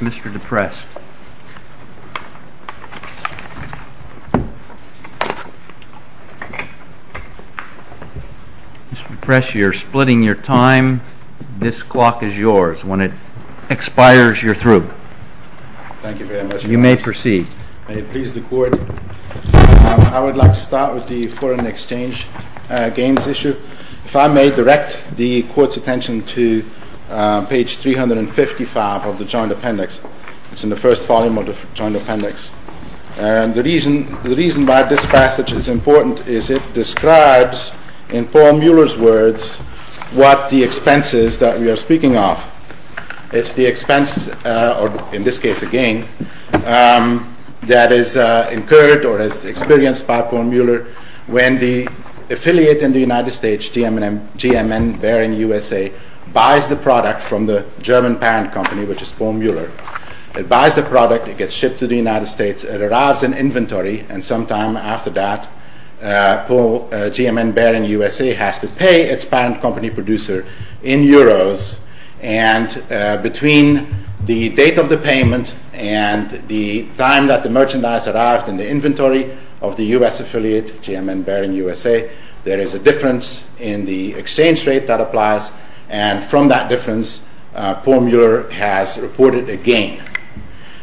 Mr. Deprest, you are splitting your time. This clock is yours. When it expires, you are through. Thank you very much. You may proceed. May it please the Court. I would like to start with the foreign exchange gains issue. If I may direct the Court's attention to page 355 of the Joint Appendix. It's in the first volume of the Joint Appendix. The reason why this passage is important is it describes, in Paul Muller's words, what the expense is that we are speaking of. It's the expense, or in this case a gain, that is incurred or is experienced by Paul Muller when the affiliate in the United States, G.M.N. Behring USA, buys the product from the German parent company, which is Paul Muller. It buys the product, it gets shipped to the United States, it arrives in inventory, and sometime after that, Paul G.M.N. Behring USA has to pay its parent company producer in euros, and between the date of the payment and the time that the merchandise arrived in the inventory of the U.S. affiliate, G.M.N. Behring USA, there is a difference in the exchange rate that applies, and from that difference, Paul Muller has reported a gain.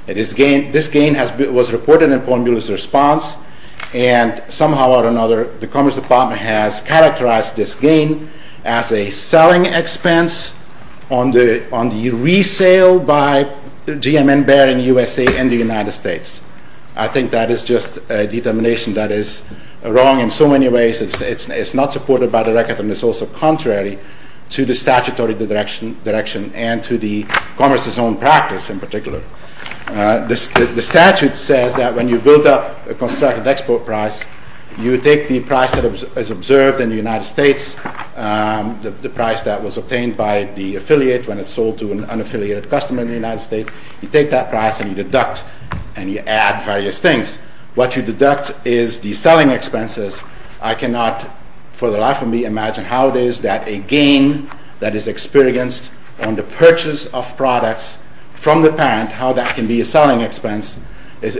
This gain was reported in Paul Muller's response, and somehow or another, the Commerce Department has characterized this gain as a selling expense on the resale by G.M.N. Behring USA in the United States. I think that is just a determination that is wrong in so many ways. It's not supported by the record, and it's also contrary to the statutory direction, and to the Commerce's own practice in particular. The statute says that when you build up a constructed export price, you take the price that is observed in the United States, the price that was obtained by the affiliate when it sold to an unaffiliated customer in the United States, you take that price and you deduct, and you add various things. What you deduct is the selling expenses. I cannot, for the life of me, imagine how it is that a gain that is experienced on the purchase of products from the parent, how that can be a selling expense is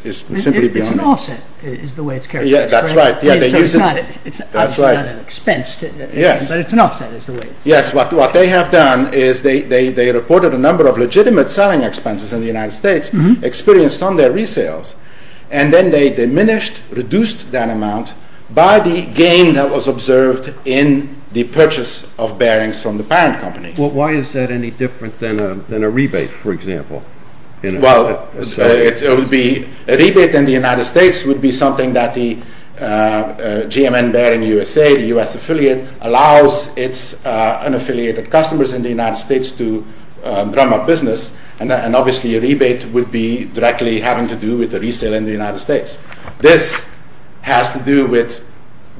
simply beyond me. It's an offset is the way it's characterized, right? Yeah, that's right. It's obviously not an expense, but it's an offset is the way it's characterized. Yes, what they have done is they reported a number of legitimate selling expenses in the United States experienced on their resales, and then they diminished, reduced that amount by the gain that was observed in the purchase of bearings from the parent company. Why is that any different than a rebate, for example? Well, a rebate in the United States would be something that the GMN bearing USA, the U.S. affiliate, allows its unaffiliated customers in the United States to run their business, and obviously a rebate would be directly having to do with the resale in the United States. This has to do with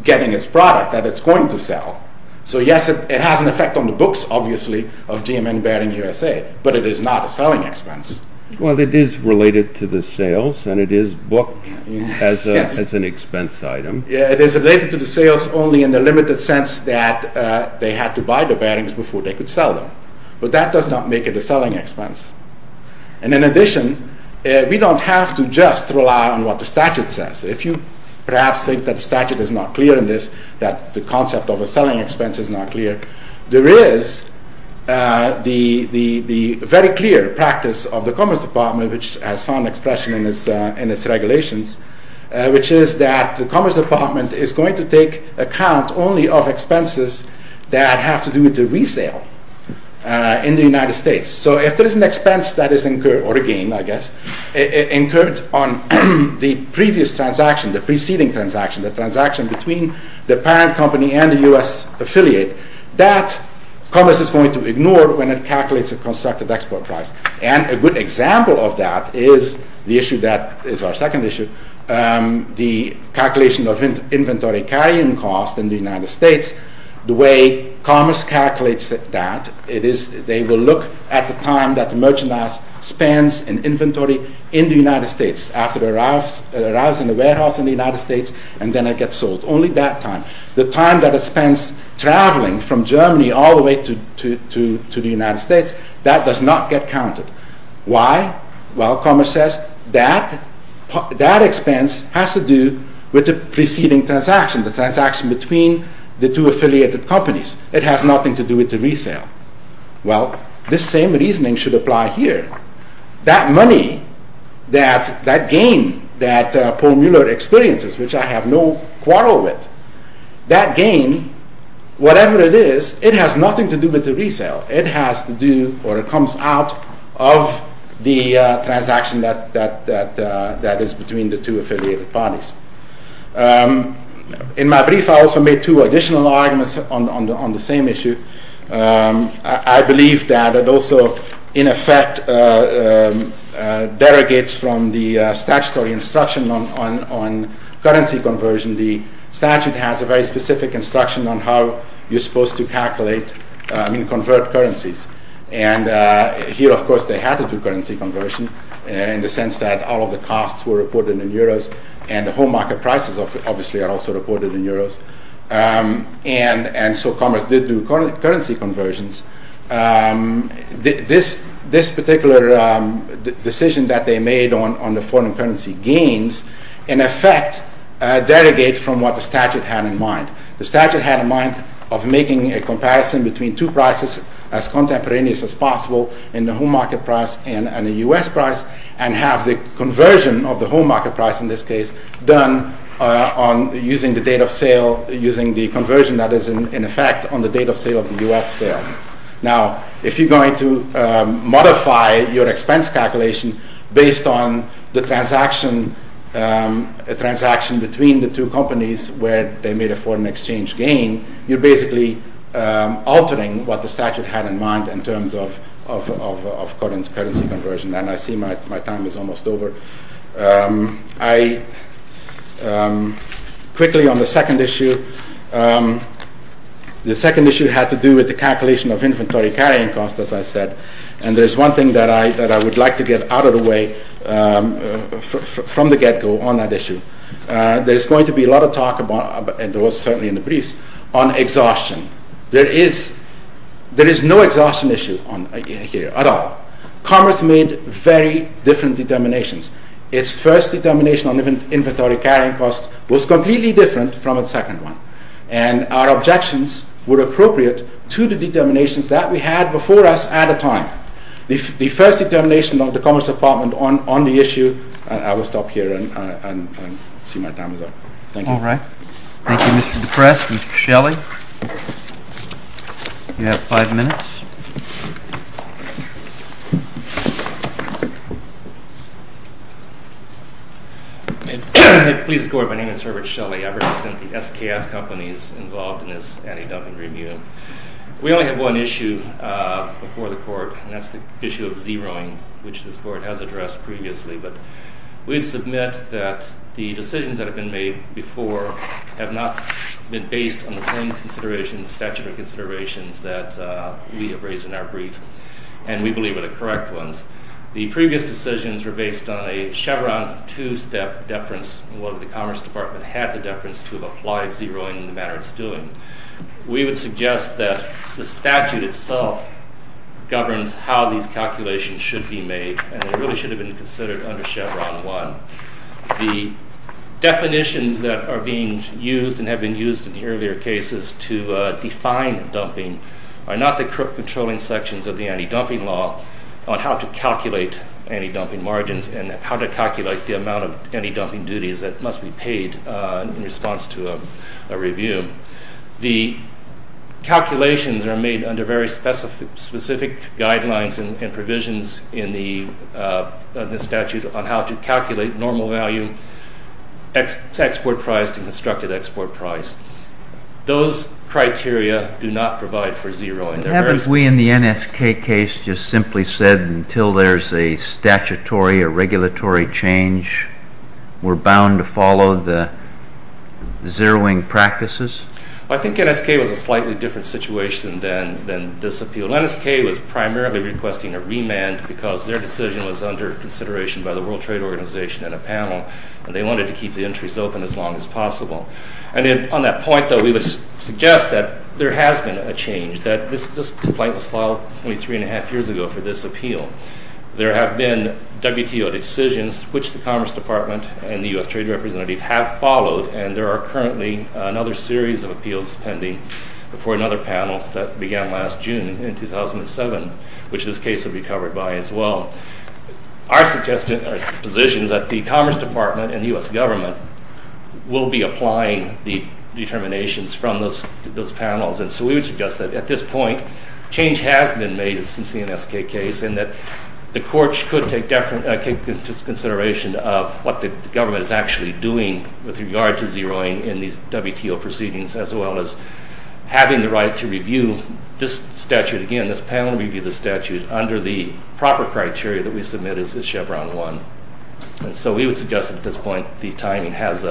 getting its product that it's going to sell. So, yes, it has an effect on the books, obviously, of GMN bearing USA, but it is not a selling expense. Well, it is related to the sales, and it is booked as an expense item. Yeah, it is related to the sales only in the limited sense that they had to buy the bearings before they could sell them, but that does not make it a selling expense, and in addition, we don't have to just rely on what the statute says. If you perhaps think that the statute is not clear in this, that the concept of a selling expense is not clear, there is the very clear practice of the Commerce Department, which has found expression in its regulations, which is that the Commerce Department is going to take account only of expenses that have to do with the resale in the United States. So if there is an expense that is incurred, or a gain, I guess, incurred on the previous transaction, the preceding transaction, the transaction between the parent company and the U.S. affiliate, that Commerce is going to ignore when it calculates a constructed export price, and a good example of that is the issue that is our second issue, the calculation of inventory carrying cost in the United States. The way Commerce calculates that, they will look at the time that the merchandise spends in inventory in the United States after it arrives in the warehouse in the United States, and then it gets sold. Only that time, the time that it spends traveling from Germany all the way to the United States, that does not get counted. Why? Well, Commerce says that that expense has to do with the preceding transaction, the transaction between the two affiliated companies. It has nothing to do with the resale. Well, this same reasoning should apply here. That money, that gain that Paul Mueller experiences, which I have no quarrel with, that gain, whatever it is, it has nothing to do with the resale. It has to do or it comes out of the transaction that is between the two affiliated parties. In my brief, I also made two additional arguments on the same issue. I believe that it also, in effect, derogates from the statutory instruction on currency conversion. The statute has a very specific instruction on how you're supposed to calculate, I mean convert currencies. And here, of course, they had to do currency conversion in the sense that all of the costs were reported in euros and the whole market prices, obviously, are also reported in euros. And so Commerce did do currency conversions. This particular decision that they made on the foreign currency gains, in effect, derogates from what the statute had in mind. The statute had in mind of making a comparison between two prices as contemporaneous as possible in the whole market price and the U.S. price and have the conversion of the whole market price, in this case, done on using the date of sale, using the conversion that is in effect on the date of sale of the U.S. sale. Now, if you're going to modify your expense calculation based on the transaction between the two companies where they made a foreign exchange gain, you're basically altering what the statute had in mind in terms of currency conversion. And I see my time is almost over. I quickly, on the second issue, the second issue had to do with the calculation of inventory carrying cost, as I said. And there's one thing that I would like to get out of the way from the get-go on that issue. There's going to be a lot of talk about, and there was certainly in the briefs, on exhaustion. There is no exhaustion issue here at all. Commerce made very different determinations. Its first determination on inventory carrying cost was completely different from its second one. And our objections were appropriate to the determinations that we had before us at the time. The first determination of the Commerce Department on the issue, I will stop here and see my time is up. Thank you. All right. Thank you, Mr. DePresse. Mr. Shelley, you have five minutes. Please escort. My name is Herbert Shelley. I represent the SKF companies involved in this anti-dumping review. We only have one issue before the court, and that's the issue of zeroing, which this board has addressed previously. But we submit that the decisions that have been made before have not been based on the same considerations, statutory considerations that we have raised in our brief, and we believe are the correct ones. The previous decisions were based on a Chevron two-step deference. The Commerce Department had the deference to have applied zeroing in the manner it's doing. We would suggest that the statute itself governs how these calculations should be made, and they really should have been considered under Chevron one. The definitions that are being used and have been used in the earlier cases to define dumping are not the controlling sections of the anti-dumping law on how to calculate anti-dumping margins and how to calculate the amount of anti-dumping duties that must be paid in response to a review. The calculations are made under very specific guidelines and provisions in the statute on how to calculate normal value, export price, and constructed export price. Those criteria do not provide for zeroing. Haven't we in the NSK case just simply said until there's a statutory or regulatory change, we're bound to follow the zeroing practices? I think NSK was a slightly different situation than this appeal. NSK was primarily requesting a remand because their decision was under consideration by the World Trade Organization and a panel, and they wanted to keep the entries open as long as possible. And on that point, though, we would suggest that there has been a change, that this complaint was filed only three and a half years ago for this appeal. There have been WTO decisions, which the Commerce Department and the U.S. Trade Representative have followed, and there are currently another series of appeals pending before another panel that began last June in 2007, which this case will be covered by as well. Our position is that the Commerce Department and the U.S. government will be applying the determinations from those panels, and so we would suggest that at this point change has been made since the NSK case and that the courts could take into consideration what the government is actually doing with regard to zeroing in these WTO proceedings as well as having the right to review this statute again, this panel review of the statute, under the proper criteria that we submit as Chevron 1. And so we would suggest at this point the timing has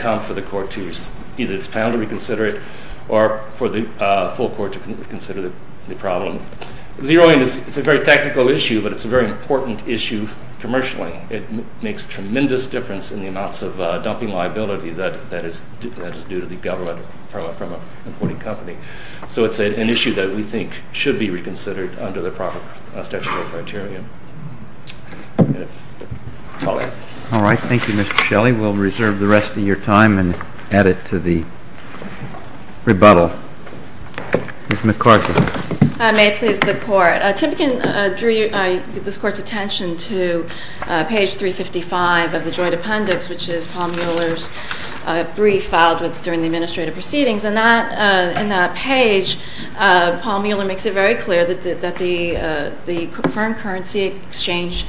come for the court to either its panel to reconsider it or for the full court to consider the problem. Zeroing is a very technical issue, but it's a very important issue commercially. It makes a tremendous difference in the amounts of dumping liability that is due to the government from an importing company. So it's an issue that we think should be reconsidered under the proper statutory criteria. All right. Thank you, Mr. Shelley. We'll reserve the rest of your time and add it to the rebuttal. Ms. McCarthy. I may please the Court. Timken drew this Court's attention to page 355 of the joint appendix, which is Paul Mueller's brief filed during the administrative proceedings, and in that page Paul Mueller makes it very clear that the foreign currency exchange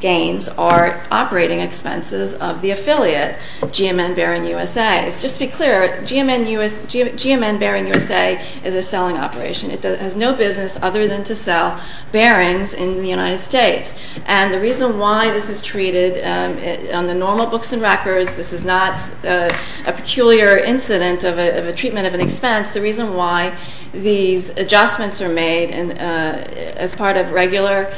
gains are operating expenses of the affiliate, GMN Bearing USA. Just to be clear, GMN Bearing USA is a selling operation. It has no business other than to sell bearings in the United States. And the reason why this is treated on the normal books and records, this is not a peculiar incident of a treatment of an expense, the reason why these adjustments are made as part of regular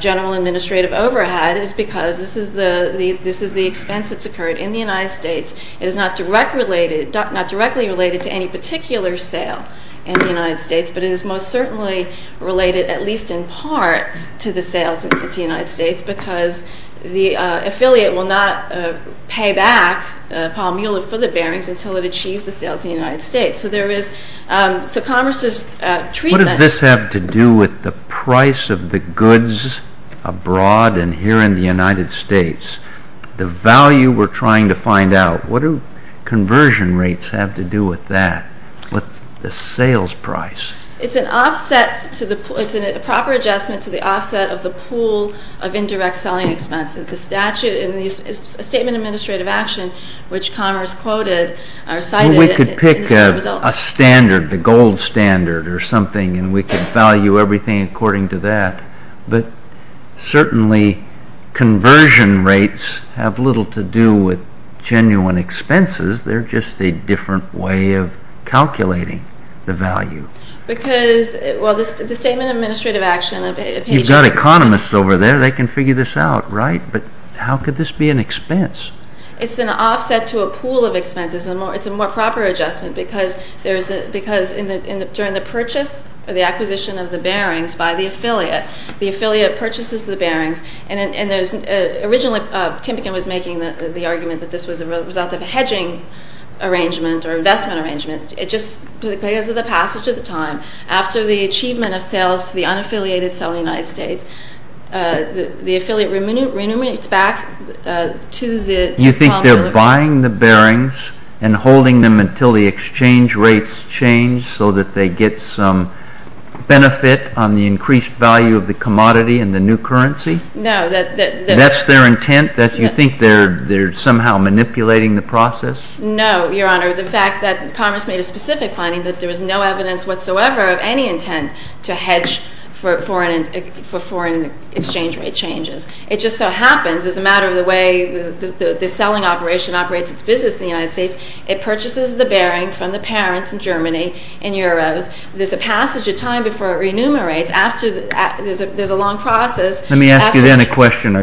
general administrative overhead is because this is the expense that's occurred in the United States. It is not directly related to any particular sale in the United States, but it is most certainly related at least in part to the sales in the United States because the affiliate will not pay back Paul Mueller for the bearings until it achieves the sales in the United States. So there is Congress's treatment. What does this have to do with the price of the goods abroad and here in the United States, the value we're trying to find out? What do conversion rates have to do with that, with the sales price? It's a proper adjustment to the offset of the pool of indirect selling expenses. The statute is a statement of administrative action which Congress quoted or cited. We could pick a standard, the gold standard or something, and we could value everything according to that, but certainly conversion rates have little to do with genuine expenses. They're just a different way of calculating the value. Because, well, the statement of administrative action. You've got economists over there. They can figure this out, right? But how could this be an expense? It's an offset to a pool of expenses. It's a more proper adjustment because during the purchase Originally, Timpigan was making the argument that this was a result of a hedging arrangement or investment arrangement. It just, because of the passage of the time, after the achievement of sales to the unaffiliated selling United States, the affiliate remunerates back to the... You think they're buying the bearings and holding them until the exchange rates change so that they get some benefit on the increased value of the commodity and the new currency? No. That's their intent? You think they're somehow manipulating the process? No, Your Honor. The fact that Congress made a specific finding that there was no evidence whatsoever of any intent to hedge for foreign exchange rate changes. It just so happens, as a matter of the way the selling operation operates its business in the United States, it purchases the bearing from the parents in Germany in euros. There's a passage of time before it remunerates. There's a long process. Let me ask you then a question. I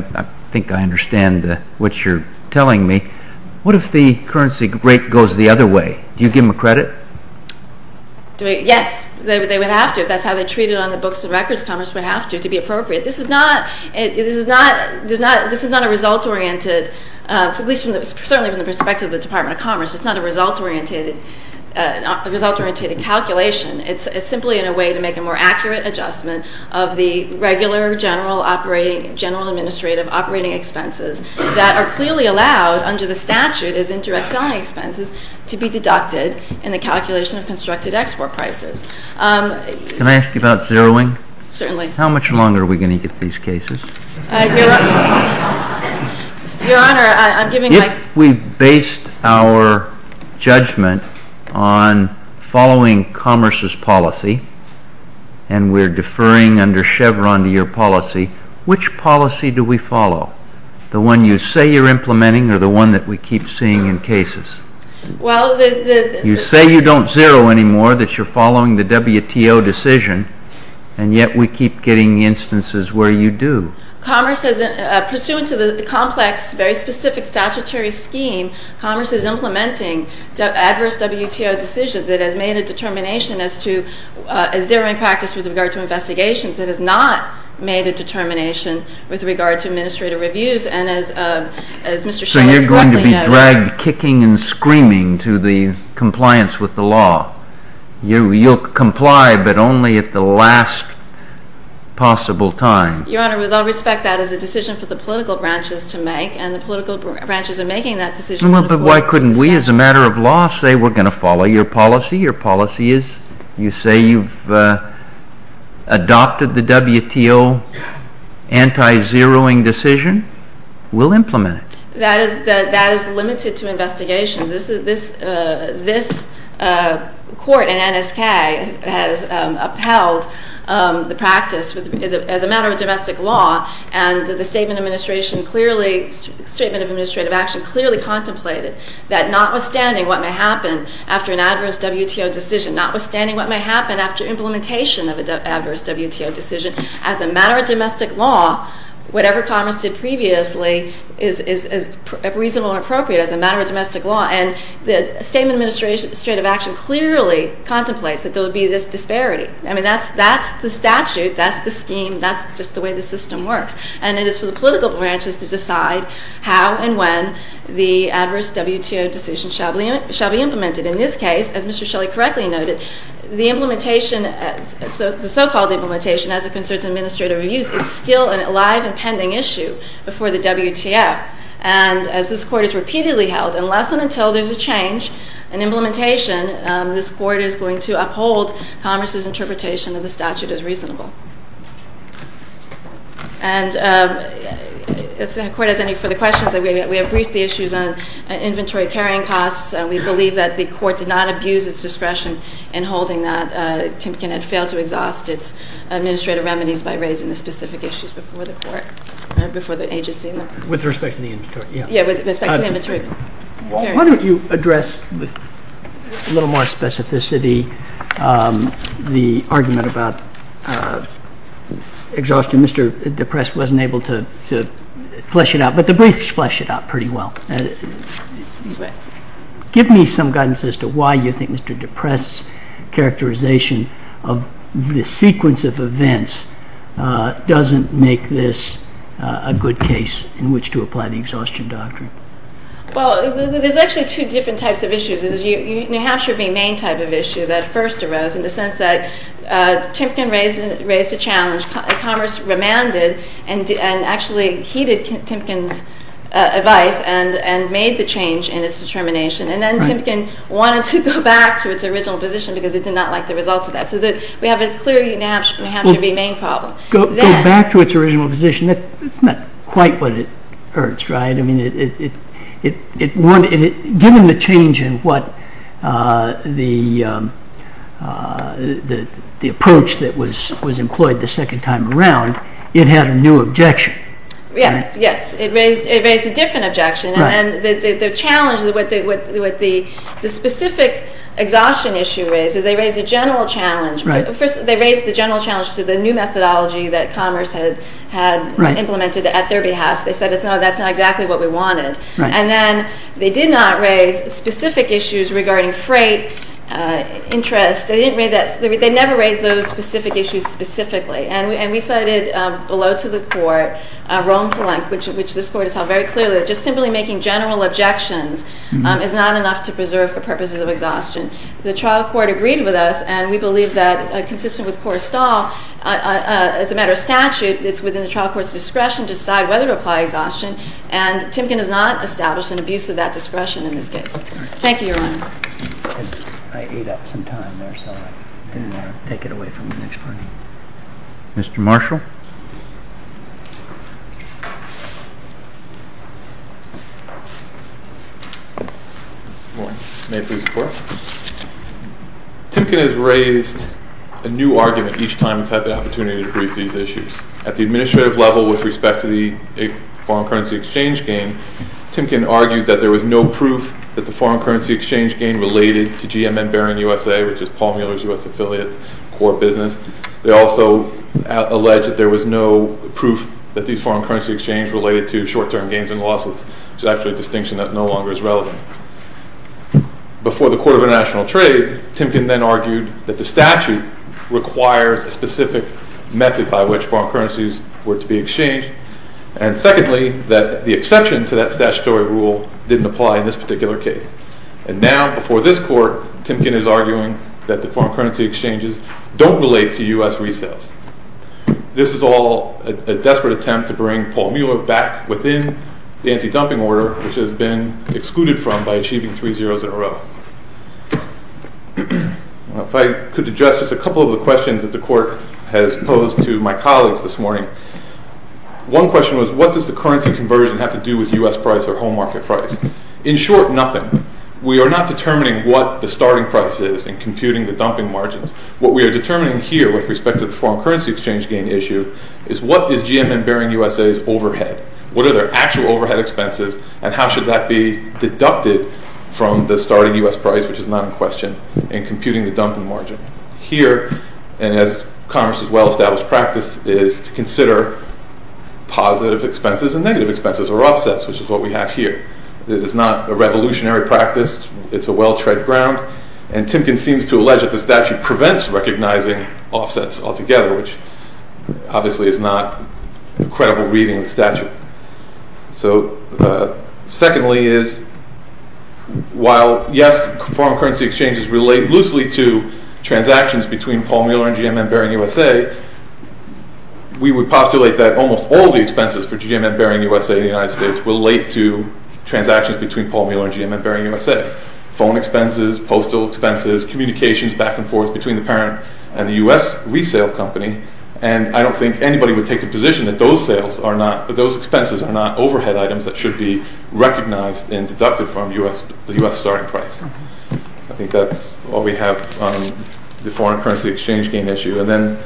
think I understand what you're telling me. What if the currency rate goes the other way? Do you give them a credit? Yes. They would have to if that's how they treat it on the books of records. Congress would have to to be appropriate. This is not a result-oriented, at least certainly from the perspective of the Department of Commerce, it's not a result-oriented calculation. It's simply in a way to make a more accurate adjustment of the regular general administrative operating expenses that are clearly allowed under the statute as indirect selling expenses to be deducted in the calculation of constructed export prices. Can I ask you about zeroing? Certainly. How much longer are we going to get these cases? Your Honor, I'm giving my… If we based our judgment on following Commerce's policy and we're deferring under Chevron to your policy, which policy do we follow? The one you say you're implementing or the one that we keep seeing in cases? Well, the… You say you don't zero anymore, that you're following the WTO decision, and yet we keep getting instances where you do. Commerce, pursuant to the complex, very specific statutory scheme, Commerce is implementing adverse WTO decisions. It has made a determination as to zeroing practice with regard to investigations. It has not made a determination with regard to administrative reviews, and as Mr. Shiller correctly noted… So you're going to be dragged kicking and screaming to the compliance with the law. You'll comply, but only at the last possible time. Your Honor, with all respect, that is a decision for the political branches to make, and the political branches are making that decision… Well, but why couldn't we, as a matter of law, say we're going to follow your policy? Your policy is… You say you've adopted the WTO anti-zeroing decision. We'll implement it. That is limited to investigations. This court in NSK has upheld the practice as a matter of domestic law, and the Statement of Administrative Action clearly contemplated that notwithstanding what may happen after an adverse WTO decision, notwithstanding what may happen after implementation of an adverse WTO decision, as a matter of domestic law, whatever Commerce did previously is reasonable and appropriate as a matter of domestic law, and the Statement of Administrative Action clearly contemplates that there would be this disparity. I mean, that's the statute. That's the scheme. That's just the way the system works, and it is for the political branches to decide how and when the adverse WTO decision shall be implemented. In this case, as Mr. Shelley correctly noted, the implementation, the so-called implementation, as it concerns administrative reviews, is still an alive and pending issue before the WTO, and as this court has repeatedly held, unless and until there's a change in implementation, this court is going to uphold Commerce's interpretation of the statute as reasonable. And if the court has any further questions, we have briefed the issues on inventory carrying costs. We believe that the court did not abuse its discretion in holding that. Timpkin had failed to exhaust its administrative remedies by raising the specific issues before the court, before the agency. With respect to the inventory, yeah. Yeah, with respect to the inventory. Why don't you address with a little more specificity the argument about exhaustion. Mr. DePresse wasn't able to flesh it out, but the briefs flesh it out pretty well. Give me some guidance as to why you think Mr. DePresse's characterization of the sequence of events doesn't make this a good case in which to apply the exhaustion doctrine. Well, there's actually two different types of issues. There's the New Hampshire v. Maine type of issue that first arose in the sense that Timpkin raised a challenge. Commerce remanded and actually heeded Timpkin's advice and made the change in its determination. And then Timpkin wanted to go back to its original position because it did not like the results of that. So we have a clear New Hampshire v. Maine problem. Go back to its original position. That's not quite what it urged, right? Given the change in the approach that was employed the second time around, it had a new objection. Yes, it raised a different objection. And the challenge, what the specific exhaustion issue is, is they raised a general challenge. First, they raised the general challenge to the new methodology that Commerce had implemented at their behest. They said, no, that's not exactly what we wanted. And then they did not raise specific issues regarding freight interest. They never raised those specific issues specifically. And we cited below to the court Rome-Pelenk, which this court has held very clearly, that just simply making general objections is not enough to preserve for purposes of exhaustion. The trial court agreed with us, and we believe that, consistent with Cora Stahl, as a matter of statute, it's within the trial court's discretion to decide whether to apply exhaustion, and Timpkin has not established an abuse of that discretion in this case. Thank you, Your Honor. I ate up some time there, so I didn't want to take it away from the next party. Mr. Marshall? Good morning. May I please report? Timpkin has raised a new argument each time it's had the opportunity to brief these issues. At the administrative level, with respect to the foreign currency exchange game, Timpkin argued that there was no proof that the foreign currency exchange game related to GM and Baron USA, which is Paul Mueller's U.S. affiliate core business. They also alleged that there was no proof that these foreign currency exchanges related to short-term gains and losses, which is actually a distinction that no longer is relevant. Before the Court of International Trade, Timpkin then argued that the statute requires a specific method by which foreign currencies were to be exchanged, and secondly, that the exception to that statutory rule didn't apply in this particular case. And now, before this Court, Timpkin is arguing that the foreign currency exchanges don't relate to U.S. resales. This is all a desperate attempt to bring Paul Mueller back within the anti-dumping order, which has been excluded from by achieving three zeroes in a row. If I could address just a couple of the questions that the Court has posed to my colleagues this morning. One question was, what does the currency conversion have to do with U.S. price or home market price? In short, nothing. We are not determining what the starting price is in computing the dumping margins. What we are determining here with respect to the foreign currency exchange game issue is what is GM and Baron USA's overhead? What are their actual overhead expenses, and how should that be deducted from the starting U.S. price, which is not in question, in computing the dumping margin? Here, and as Congress' well-established practice, is to consider positive expenses and negative expenses, or offsets, which is what we have here. It is not a revolutionary practice. It's a well-tread ground. And Timpkin seems to allege that the statute prevents recognizing offsets altogether, which obviously is not a credible reading of the statute. Secondly, while yes, foreign currency exchanges relate loosely to transactions between Paul Mueller and GM and Baron USA, we would postulate that almost all the expenses for GM and Baron USA in the United States relate to transactions between Paul Mueller and GM and Baron USA. Phone expenses, postal expenses, communications back and forth between the parent and the U.S. resale company. And I don't think anybody would take the position that those expenses are not overhead items that should be recognized and deducted from the U.S. starting price. I think that's all we have on the foreign currency exchange gain issue. And then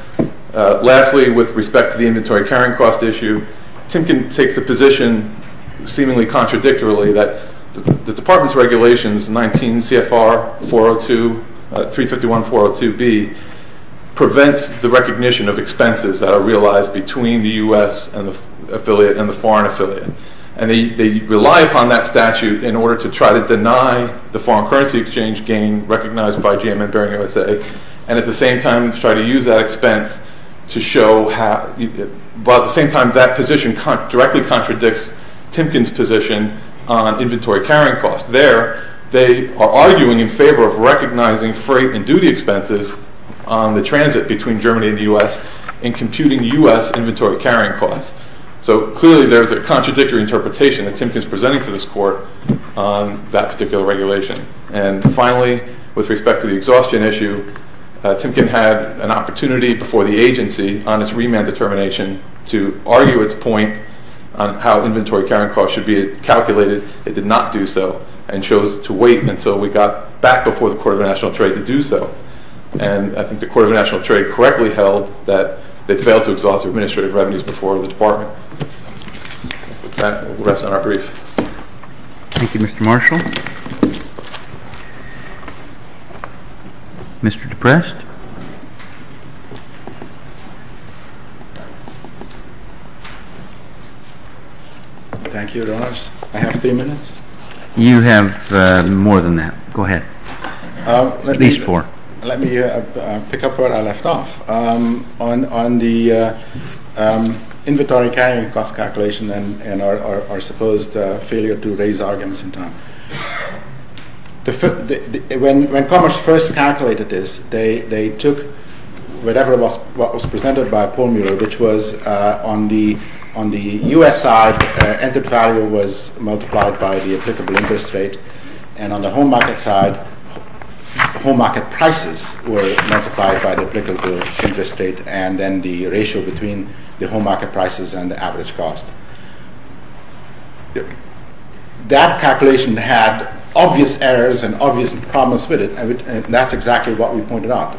lastly, with respect to the inventory carrying cost issue, Timpkin takes the position, seemingly contradictorily, that the department's regulations, 19 CFR 302, 351.402b, prevents the recognition of expenses that are realized between the U.S. affiliate and the foreign affiliate. And they rely upon that statute in order to try to deny the foreign currency exchange gain recognized by GM and Baron USA and at the same time try to use that expense to show how, but at the same time that position directly contradicts Timpkin's position on inventory carrying costs. There, they are arguing in favor of recognizing freight and duty expenses on the transit between Germany and the U.S. and computing U.S. inventory carrying costs. So clearly there's a contradictory interpretation that Timpkin's presenting to this court on that particular regulation. And finally, with respect to the exhaustion issue, Timpkin had an opportunity before the agency on its remand determination to argue its point on how inventory carrying costs should be calculated. It did not do so and chose to wait until we got back before the Court of National Trade to do so. And I think the Court of National Trade correctly held that they failed to exhaust the administrative revenues before the department. That rests on our brief. Thank you, Mr. Marshall. Mr. DePrest. Thank you, Your Honors. I have three minutes. You have more than that. Go ahead. At least four. Let me pick up where I left off. On the inventory carrying cost calculation and our supposed failure to raise arguments in time. When Commerce first calculated this, they took whatever was presented by Pohlmuller, which was on the U.S. side, entered value was multiplied by the applicable interest rate. And on the home market side, home market prices were multiplied by the applicable interest rate and then the ratio between the home market prices and the average cost. That calculation had obvious errors and obvious problems with it. And that's exactly what we pointed out.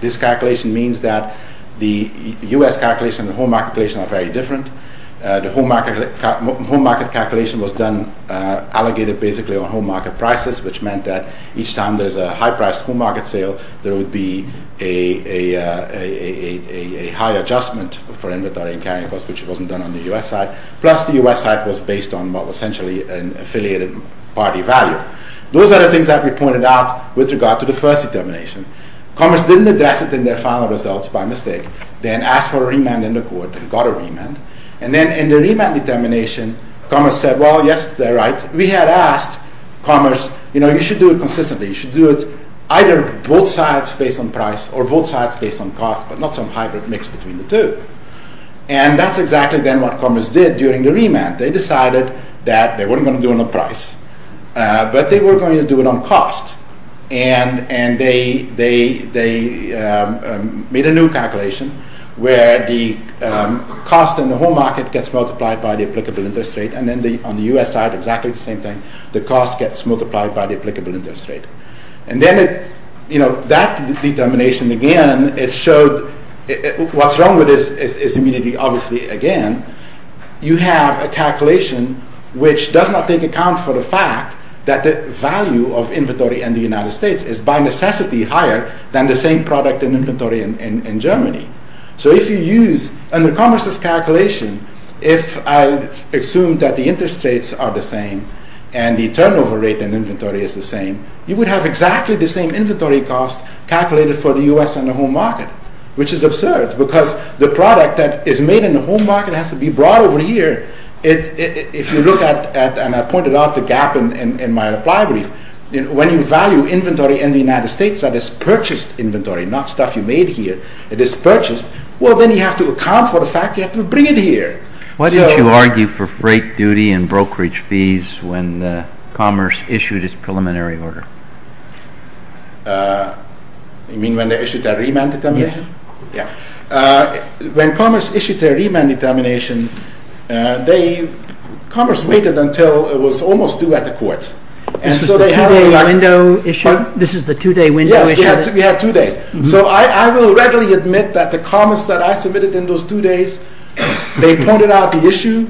This calculation means that the U.S. calculation and the home market calculation are very different. The home market calculation was done, allocated basically on home market prices, which meant that each time there's a high-priced home market sale, there would be a high adjustment for inventory and carrying cost, which wasn't done on the U.S. side. Plus, the U.S. side was based on what was essentially an affiliated party value. Those are the things that we pointed out with regard to the first determination. Commerce didn't address it in their final results by mistake. Then asked for a remand in the court and got a remand. And then in the remand determination, Commerce said, well, yes, they're right. We had asked Commerce, you know, you should do it consistently. You should do it either both sides based on price or both sides based on cost, but not some hybrid mix between the two. And that's exactly then what Commerce did during the remand. They decided that they weren't going to do it on price, but they were going to do it on cost. And they made a new calculation where the cost in the home market gets multiplied by the applicable interest rate. And then on the U.S. side, exactly the same thing. The cost gets multiplied by the applicable interest rate. And then, you know, that determination, again, it showed what's wrong with this is immunity, obviously, again. You have a calculation which does not take account for the fact that the value of inventory in the United States is by necessity higher than the same product in inventory in Germany. So if you use, under Commerce's calculation, if I assume that the interest rates are the same and the turnover rate in inventory is the same, you would have exactly the same inventory cost calculated for the U.S. and the home market, which is absurd because the product that is made in the home market has to be brought over here. If you look at, and I pointed out the gap in my reply brief, when you value inventory in the United States, that is purchased inventory, not stuff you made here. It is purchased. Well, then you have to account for the fact you have to bring it here. Why didn't you argue for freight duty and brokerage fees when Commerce issued its preliminary order? You mean when they issued their remand determination? Yeah. Yeah. When Commerce issued their remand determination, Commerce waited until it was almost due at the court. This is the two-day window issue? Yes, we had two days. So I will readily admit that the comments that I submitted in those two days, they pointed out the issue,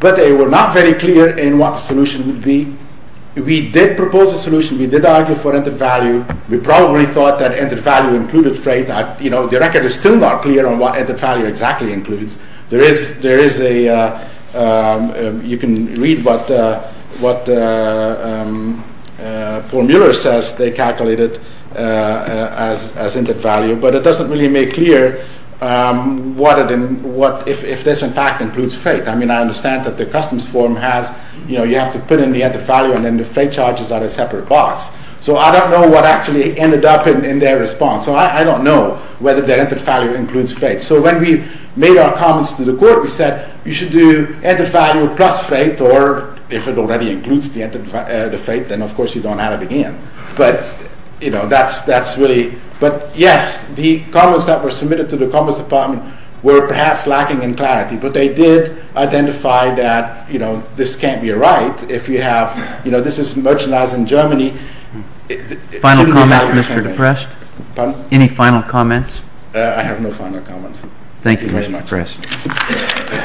but they were not very clear in what the solution would be. We did propose a solution. We did argue for entered value. We probably thought that entered value included freight. The record is still not clear on what entered value exactly includes. You can read what Paul Mueller says they calculated as entered value, but it doesn't really make clear if this, in fact, includes freight. I mean, I understand that the customs form has, you know, you have to put in the entered value, and then the freight charges are a separate box. So I don't know what actually ended up in their response. So I don't know whether their entered value includes freight. So when we made our comments to the court, we said you should do entered value plus freight, or if it already includes the freight, then of course you don't add it again. But, you know, that's really, but yes, the comments that were submitted to the Commerce Department were perhaps lacking in clarity, but they did identify that, you know, this can't be right if you have, you know, this is merchandise in Germany. Final comments, Mr. DePrest? Pardon? Any final comments? I have no final comments. Thank you very much. Thank you, Mr. DePrest.